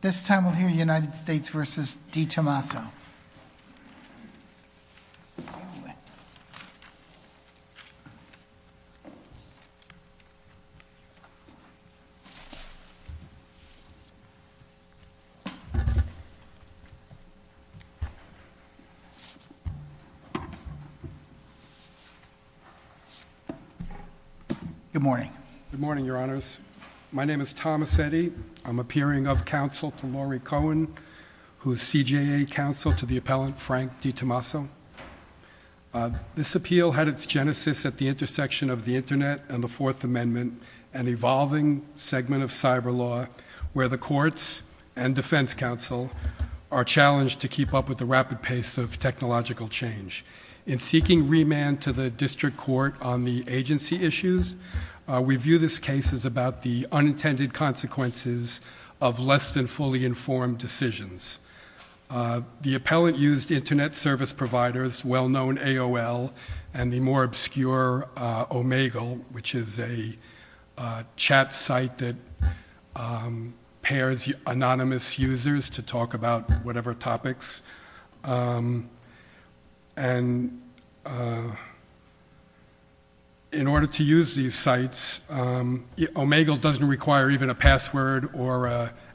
Tommaso. Good morning, Your Honors. My name is Thomas Eddy. I'm appearing of counsel to Lori Cohen, who's CJA counsel to the appellant Frank Di Tommaso. This appeal had its genesis at the intersection of the Internet and the Fourth Amendment, an evolving segment of cyber law where the courts and defense counsel are challenged to keep up with the rapid pace of technological change. In seeking remand to the district court on the agency issues, we view this case as about the unintended consequences of less than fully informed decisions. The appellant used Internet service providers, well-known AOL, and the more obscure Omegle, which is a chat site that pairs anonymous users to talk about whatever topics. And in order to use these sites, Omegle doesn't require even a password or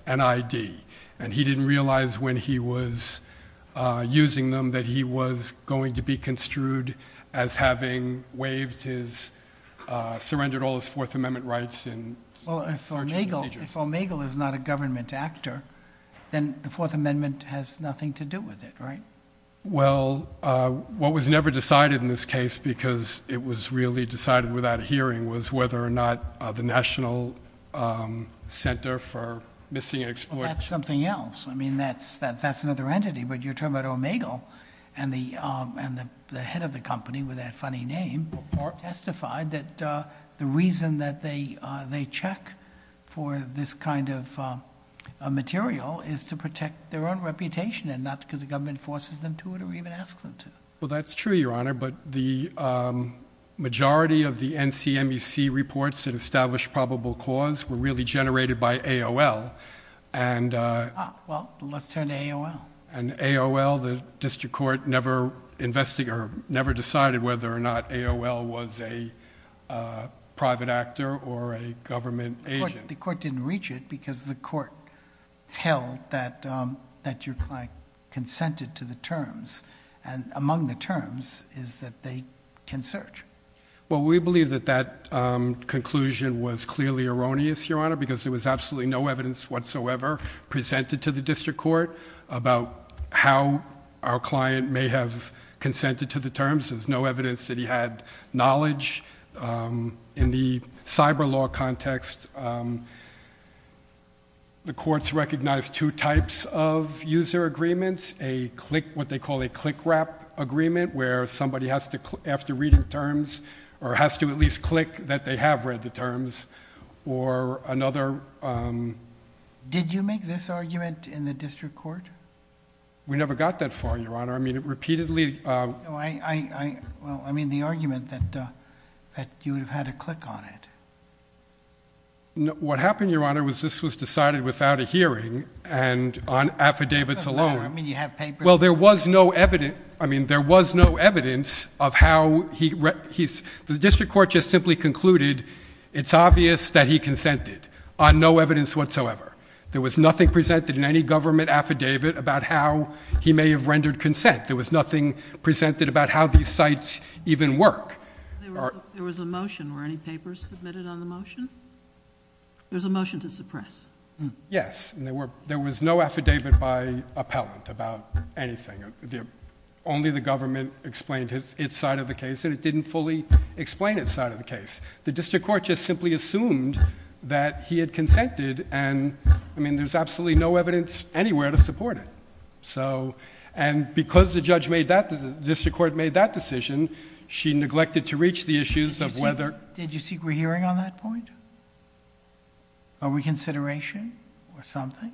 an ID, and he didn't realize when he was using them that he was going to be construed as having waived his, surrendered all his Fourth Amendment rights in searching procedures. If Omegle is not a government actor, then the Fourth Amendment has nothing to do with it, right? Well, what was never decided in this case because it was really decided without a hearing was whether or not the National Center for Missing and Exploited... That's something else. I mean, that's another entity, but you're talking about Omegle, and the head of the kind of material is to protect their own reputation and not because the government forces them to or even asks them to. Well, that's true, Your Honor, but the majority of the NCMEC reports that established probable cause were really generated by AOL, and... Well, let's turn to AOL. And AOL, the district court never decided whether or not AOL was a private actor or a government agent. The court didn't reach it because the court held that your client consented to the terms, and among the terms is that they can search. Well, we believe that that conclusion was clearly erroneous, Your Honor, because there was absolutely no evidence whatsoever presented to the district court about how our client may have consented to the terms. There's no evidence that he had knowledge. In the cyber law context, the courts recognized two types of user agreements, what they call a click-wrap agreement where somebody has to, after reading terms, or has to at least click that they have read the terms, or another... Did you make this argument in the district court? We never got that far, Your Honor. I mean, it repeatedly... Well, I mean, the argument that you would have had to click on it. What happened, Your Honor, was this was decided without a hearing and on affidavits alone. I mean, you have papers... Well, there was no evidence... I mean, there was no evidence of how he... The district court just simply concluded it's obvious that he consented on no evidence whatsoever. There was nothing presented in any government affidavit about how he may have rendered consent. There was nothing presented about how these sites even work. There was a motion. Were any papers submitted on the motion? There's a motion to suppress. Yes, and there was no affidavit by appellant about anything. Only the government explained its side of the case, and it didn't fully explain its side of the case. The district court just simply assumed that he had consented, and I mean, there's absolutely no evidence anywhere to support it. So, and because the judge made that... the district court made that decision, she neglected to reach the issues of whether... Did you seek a hearing on that point, a reconsideration or something?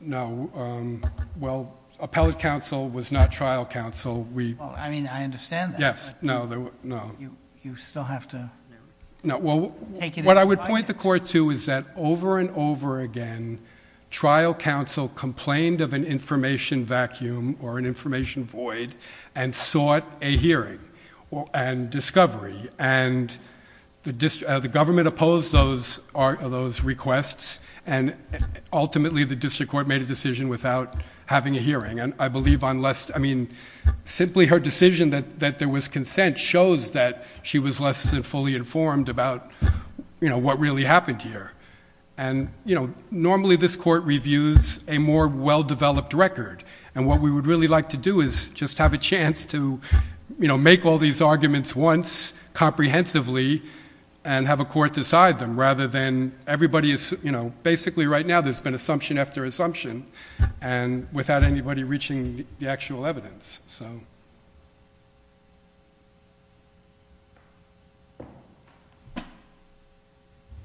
No. Well, appellate counsel was not trial counsel. We... I mean, I understand that. Yes. No. No. You still have to... No. Well, what I would point the court to is that over and over again, trial counsel complained of an information vacuum or an information void and sought a hearing and discovery, and the government opposed those requests, and ultimately, the district court made a decision without having a hearing, and I believe on less... I mean, simply her decision that there was consent shows that she was less than fully informed about, you know, what really happened here, and, you know, normally this court reviews a more well-developed record, and what we would really like to do is just have a chance to, you know, make all these arguments once comprehensively and have a court decide them, rather than everybody... you know, basically right now, there's been assumption after assumption, and without anybody reaching the actual evidence, so...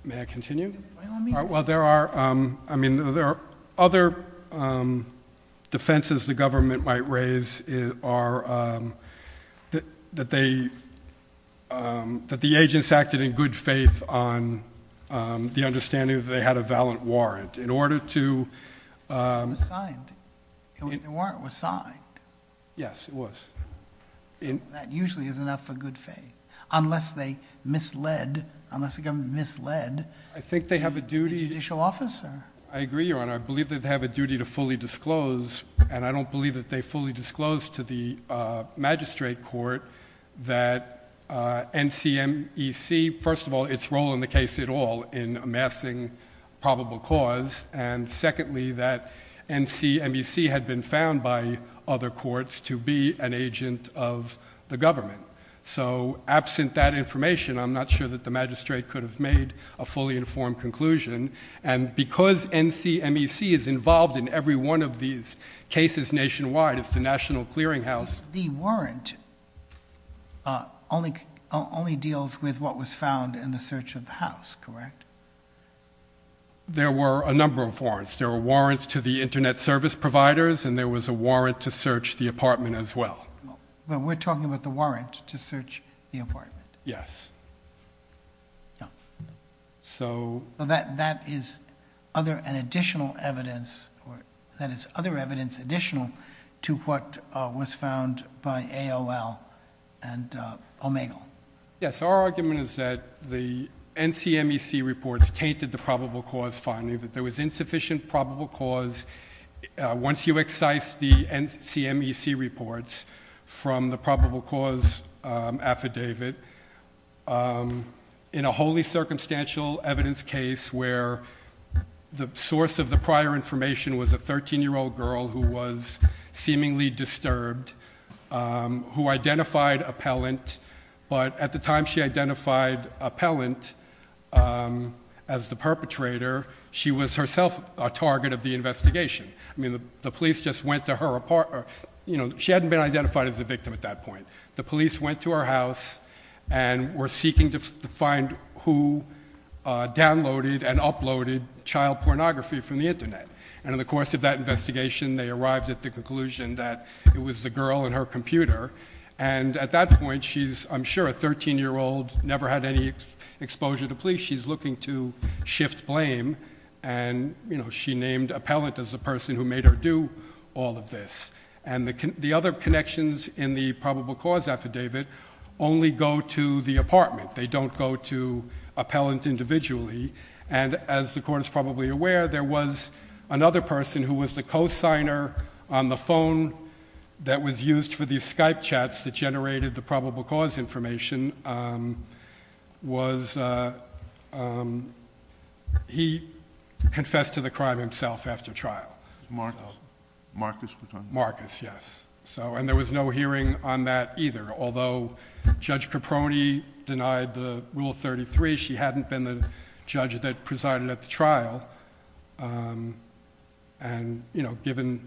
Well, I mean... I mean, there are other defenses the government might raise that the agents acted in good faith on the understanding that they had a valid warrant in order to... It was signed. The warrant was signed. Yes, it was. That usually is enough for good faith, unless they misled... unless the government misled... I think they have a duty...... the judicial officer. I agree, Your Honor. I believe that they have a duty to fully disclose, and I don't believe that they fully disclosed to the magistrate court that NCMEC... first of all, its role in the case at all in amassing probable cause, and secondly, that NCMEC had been found by other courts to be an agent of the government. So absent that information, I'm not sure that the magistrate could have made a decision. Because NCMEC is involved in every one of these cases nationwide, it's the National Clearinghouse... The warrant only deals with what was found in the search of the house, correct? There were a number of warrants. There were warrants to the internet service providers, and there was a warrant to search the apartment as well. But we're talking about the warrant to search the apartment. Yes. So... So that is other and additional evidence... that is other evidence additional to what was found by AOL and OMEGLE. Yes. Our argument is that the NCMEC reports tainted the probable cause finding, that there was insufficient probable cause. Once you excise the NCMEC reports from the probable cause affidavit, in a evidence case where the source of the prior information was a 13-year-old girl who was seemingly disturbed, who identified appellant, but at the time she identified appellant as the perpetrator, she was herself a target of the investigation. I mean, the police just went to her... you know, she hadn't been identified as a victim at that point. The police went to her house and were seeking to find who downloaded and uploaded child pornography from the internet, and in the course of that investigation they arrived at the conclusion that it was the girl and her computer, and at that point she's, I'm sure, a 13-year-old, never had any exposure to police. She's looking to shift blame, and, you know, she named appellant as the person who made her do all of this. And the other connections in the probable cause affidavit only go to the apartment. They don't go to appellant individually, and as the Court is probably aware, there was another person who was the co-signer on the phone that was used for the Skype chats that generated the probable cause information, was... he confessed to the crime himself after trial. Marcus. Marcus. Marcus, yes. And there was no hearing on that either, although Judge Caproni denied the Rule 33, she hadn't been the judge that presided at the trial, and, you know, given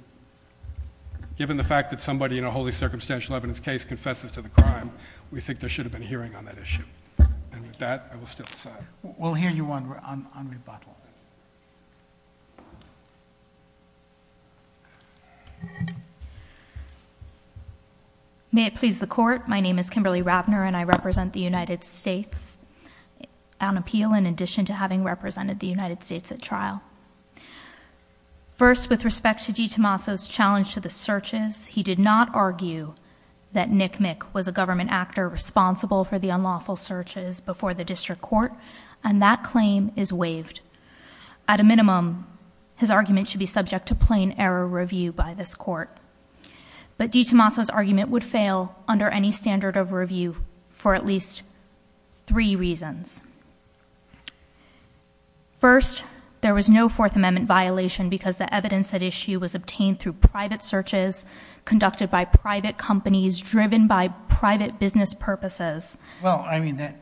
the fact that somebody in a wholly circumstantial evidence case confesses to the crime, we think there should have been a hearing on that issue. And with that, I will still sign. We'll hear you on rebuttal. May it please the Court. My name is Kimberly Ravner, and I represent the United States on appeal in addition to having represented the United States at trial. First, with respect to G. Tommaso's challenge to the searches, he did not argue that Nick Mick was a government actor responsible for the unlawful searches before the district court, and that claim is waived. At a minimum, his argument should be subject to plain error review by this Court, but G. Tommaso's argument would fail under any standard of review for at least three reasons. First, there was no Fourth Amendment violation because the evidence at issue was obtained through private searches conducted by private companies driven by private business purposes. Well, I mean,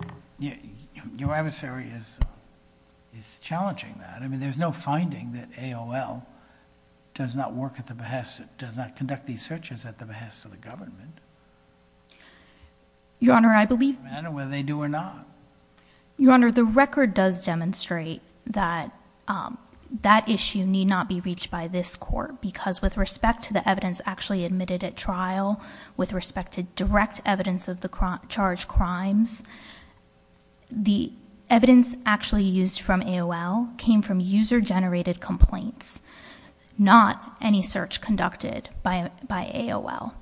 your adversary is challenging that. I mean, there's no finding that AOL does not work at the behest... does not conduct these searches at the behest of the government. Your Honor, I believe... It doesn't matter whether they do or not. Your Honor, the record does demonstrate that that issue need not be reached AOL with respect to direct evidence of the charged crimes. The evidence actually used from AOL came from user-generated complaints, not any search conducted by AOL.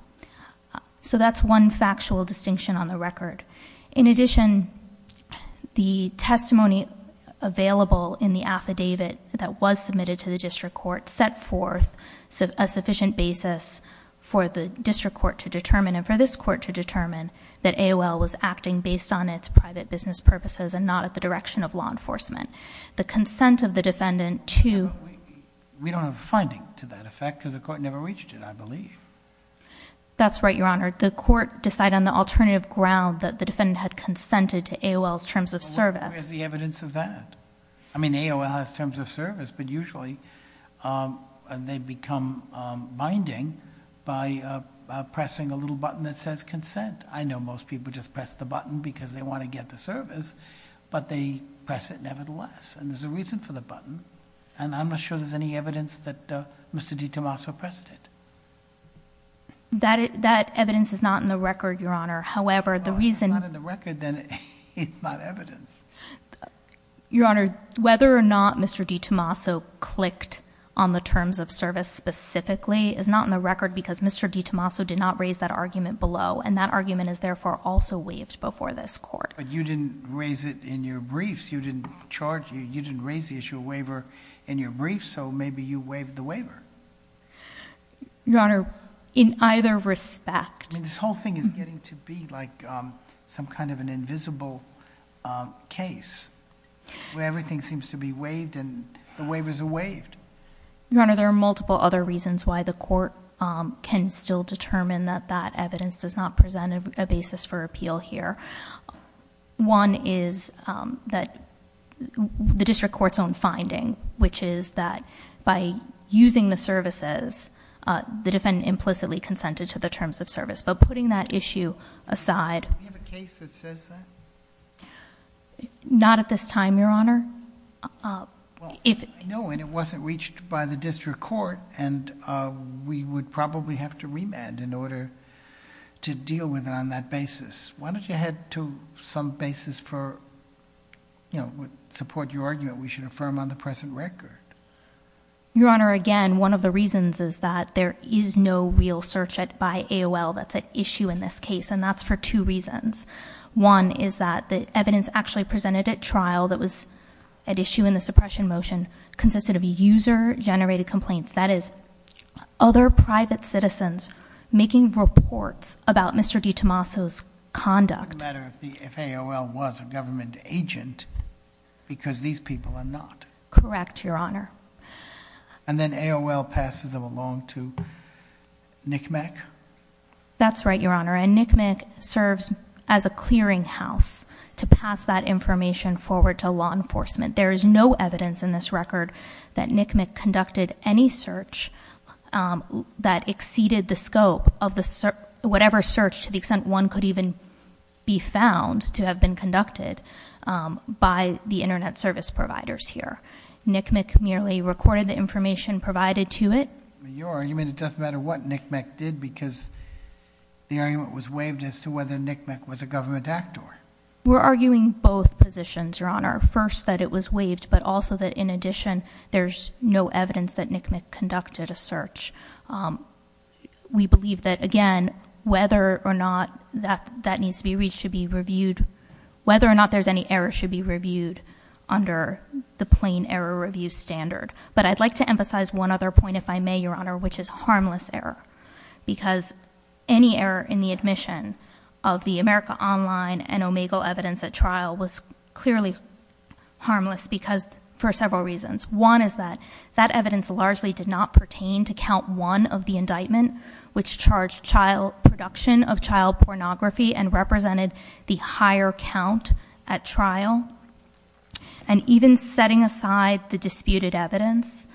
So that's one factual distinction on the record. In addition, the testimony available in the affidavit that was submitted to the district court set forth a sufficient basis for the district court to determine and for this court to determine that AOL was acting based on its private business purposes and not at the direction of law enforcement. The consent of the defendant to... We don't have a finding to that effect because the court never reached it, I believe. That's right, Your Honor. The court decided on the alternative ground that the defendant had consented to AOL's terms of service. Where's the evidence of that? I mean, AOL has terms of service, but usually they become binding by pressing a little button that says consent. I know most people just press the button because they want to get the service, but they press it nevertheless. And there's a reason for the button, and I'm not sure there's any evidence that Mr. DiTomaso pressed it. That evidence is not in the record, Your Honor. However, the reason... If it's not in the record, then it's not evidence. Your Honor, whether or not Mr. DiTomaso clicked on the terms of service specifically is not in the record, because Mr. DiTomaso did not raise that argument below, and that argument is therefore also waived before this court. But you didn't raise it in your briefs. You didn't charge, you didn't raise the issue of waiver in your briefs, so maybe you waived the waiver. Your Honor, in either respect. I mean, this whole thing is getting to be like some kind of an invisible case, where everything seems to be waived and the waivers are waived. Your Honor, there are multiple other reasons why the court can still determine that that evidence does not present a basis for appeal here. One is that the district court's own finding, which is that by using the services, the defendant implicitly consented to the terms of service. But putting that issue aside- Do we have a case that says that? Not at this time, Your Honor. No, and it wasn't reached by the district court, and we would probably have to remand in order to deal with it on that basis. Why don't you head to some basis for, support your argument, we should affirm on the present record. Your Honor, again, one of the reasons is that there is no real search by AOL that's at issue in this case, and that's for two reasons. One is that the evidence actually presented at trial that was at issue in the suppression motion consisted of user generated complaints. That is, other private citizens making reports about Mr. DeTomaso's conduct. No matter if AOL was a government agent, because these people are not. Correct, Your Honor. And then AOL passes them along to NCMEC? That's right, Your Honor, and NCMEC serves as a clearing house to pass that information forward to law enforcement. There is no evidence in this record that NCMEC conducted any search that exceeded the scope of the, whatever search to the extent one could even be found to have been conducted by the internet service providers here. NCMEC merely recorded the information provided to it. Your argument, it doesn't matter what NCMEC did, because the argument was waived as to whether NCMEC was a government actor. We're arguing both positions, Your Honor. First, that it was waived, but also that in addition, there's no evidence that NCMEC conducted a search. We believe that, again, whether or not that needs to be reached should be reviewed. Whether or not there's any error should be reviewed under the plain error review standard. But I'd like to emphasize one other point, if I may, Your Honor, which is harmless error. Because any error in the admission of the America Online and Omegle evidence at trial was clearly harmless for several reasons. One is that that evidence largely did not pertain to count one of the indictment, which charged child production of child pornography and represented the higher count at trial. And even setting aside the disputed evidence,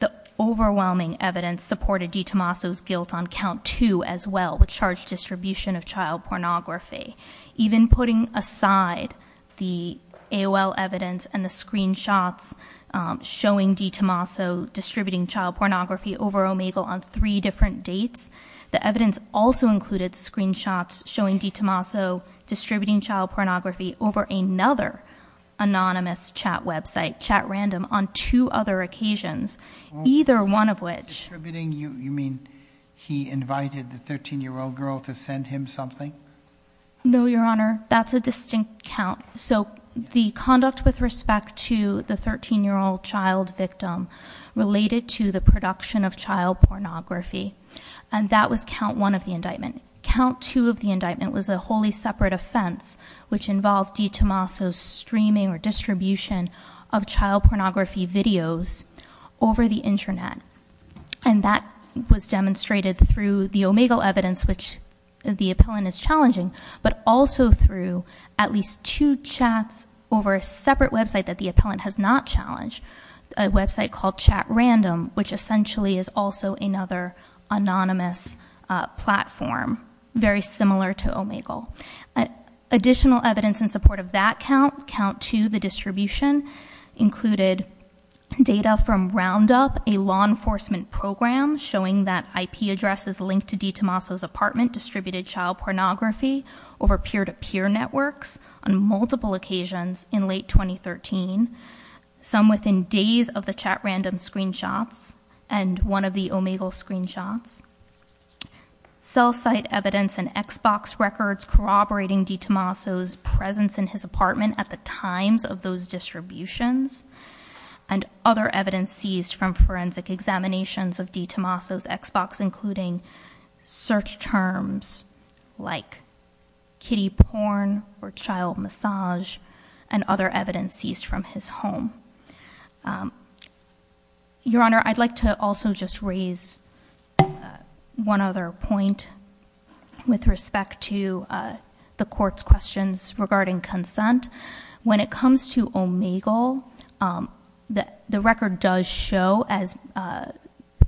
the overwhelming evidence supported DeTomaso's guilt on count two as well, which charged distribution of child pornography. Even putting aside the AOL evidence and the screenshots showing DeTomaso distributing child pornography over Omegle on three different dates. The evidence also included screenshots showing DeTomaso distributing child pornography over another anonymous chat website, chat random, on two other occasions, either one of which- Distributing, you mean he invited the 13 year old girl to send him something? No, Your Honor, that's a distinct count. So the conduct with respect to the 13 year old child victim related to the production of child pornography. And that was count one of the indictment. Count two of the indictment was a wholly separate offense, which involved DeTomaso's streaming or distribution of child pornography videos over the Internet. And that was demonstrated through the Omegle evidence, which the appellant is challenging, but also through at least two chats over a separate website that the appellant has not challenged. A website called Chat Random, which essentially is also another anonymous platform, very similar to Omegle. Additional evidence in support of that count, count two, the distribution, included data from Roundup, a law enforcement program, showing that IP addresses linked to DeTomaso's apartment distributed child pornography over peer-to-peer networks on multiple occasions in late 2013. Some within days of the chat random screenshots, and one of the Omegle screenshots. Cell site evidence and Xbox records corroborating DeTomaso's presence in his apartment at the times of those distributions. And other evidence seized from forensic examinations of DeTomaso's Xbox, including search terms like kiddie porn or child massage, and other evidence seized from his home. Your Honor, I'd like to also just raise one other point with respect to the court's questions regarding consent. When it comes to Omegle, the record does show, as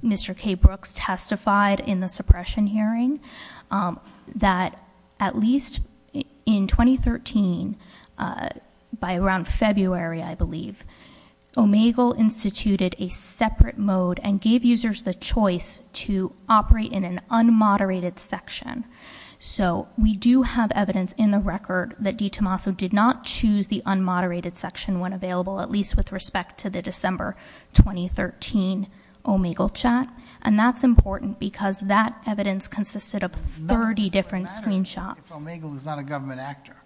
Mr. K Brooks testified in the suppression hearing, that at least in 2013, by around February, I believe, Omegle instituted a separate mode and gave users the choice to operate in an unmoderated section. So we do have evidence in the record that DeTomaso did not choose the unmoderated section when available, at least with respect to the December 2013 Omegle chat. And that's important because that evidence consisted of 30 different screenshots. If Omegle is not a government actor.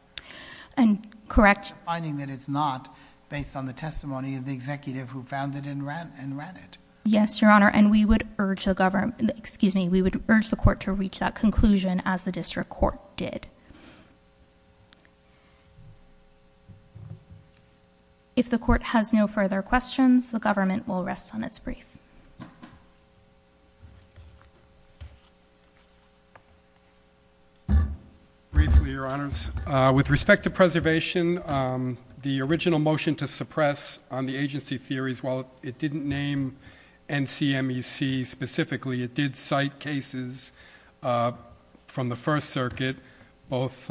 And correct. Finding that it's not based on the testimony of the executive who found it and ran it. Yes, Your Honor, and we would urge the government, excuse me, we would urge the court to reach that conclusion as the district court did. If the court has no further questions, the government will rest on its brief. Briefly, Your Honors. With respect to preservation, the original motion to suppress on the agency theories, while it didn't name NCMEC specifically, it did cite cases from the first circuit, both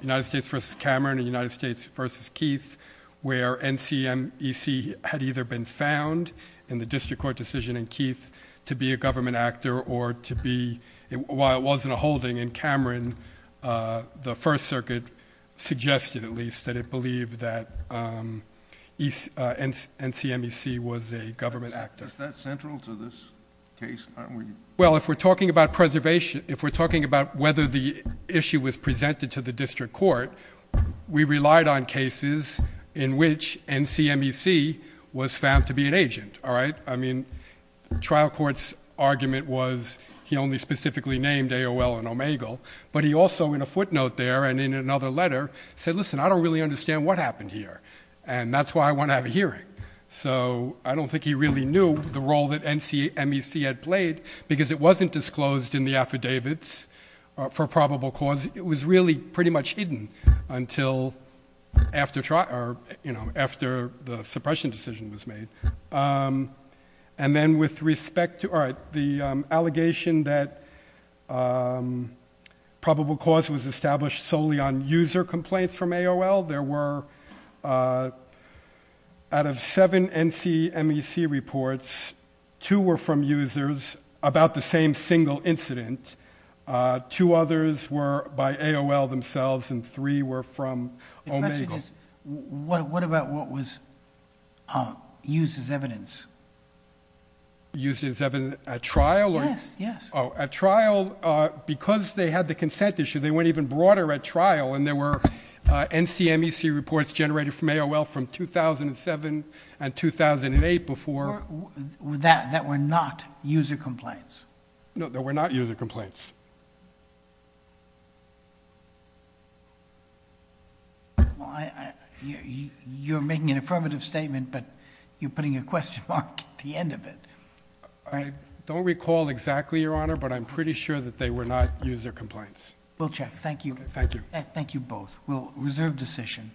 United States versus Cameron and United States versus Keith. Where NCMEC had either been found in the district court decision in Keith to be a government actor or to be, while it wasn't a holding in Cameron, the first circuit suggested at least that it believed that NCMEC was a government actor. Is that central to this case? Well, if we're talking about preservation, if we're talking about whether the issue was presented to the district court, we relied on cases in which NCMEC was found to be an agent, all right? I mean, trial court's argument was he only specifically named AOL and Omegle, but he also, in a footnote there and in another letter, said, listen, I don't really understand what happened here. And that's why I want to have a hearing. So I don't think he really knew the role that NCMEC had played because it wasn't disclosed in the affidavits for probable cause. It was really pretty much hidden until after the suppression decision was made. And then with respect to, all right, the allegation that probable cause was established solely on user complaints from AOL. There were, out of seven NCMEC reports, two were from users about the same single incident. Two others were by AOL themselves, and three were from Omegle. The question is, what about what was used as evidence? Used as evidence at trial? Yes, yes. At trial, because they had the consent issue, they went even broader at trial, and there were NCMEC reports generated from AOL from 2007 and 2008 before. That were not user complaints. No, they were not user complaints. Well, you're making an affirmative statement, but you're putting a question mark at the end of it. I don't recall exactly, Your Honor, but I'm pretty sure that they were not user complaints. We'll check. Thank you. Thank you. Thank you both. We'll reserve decision.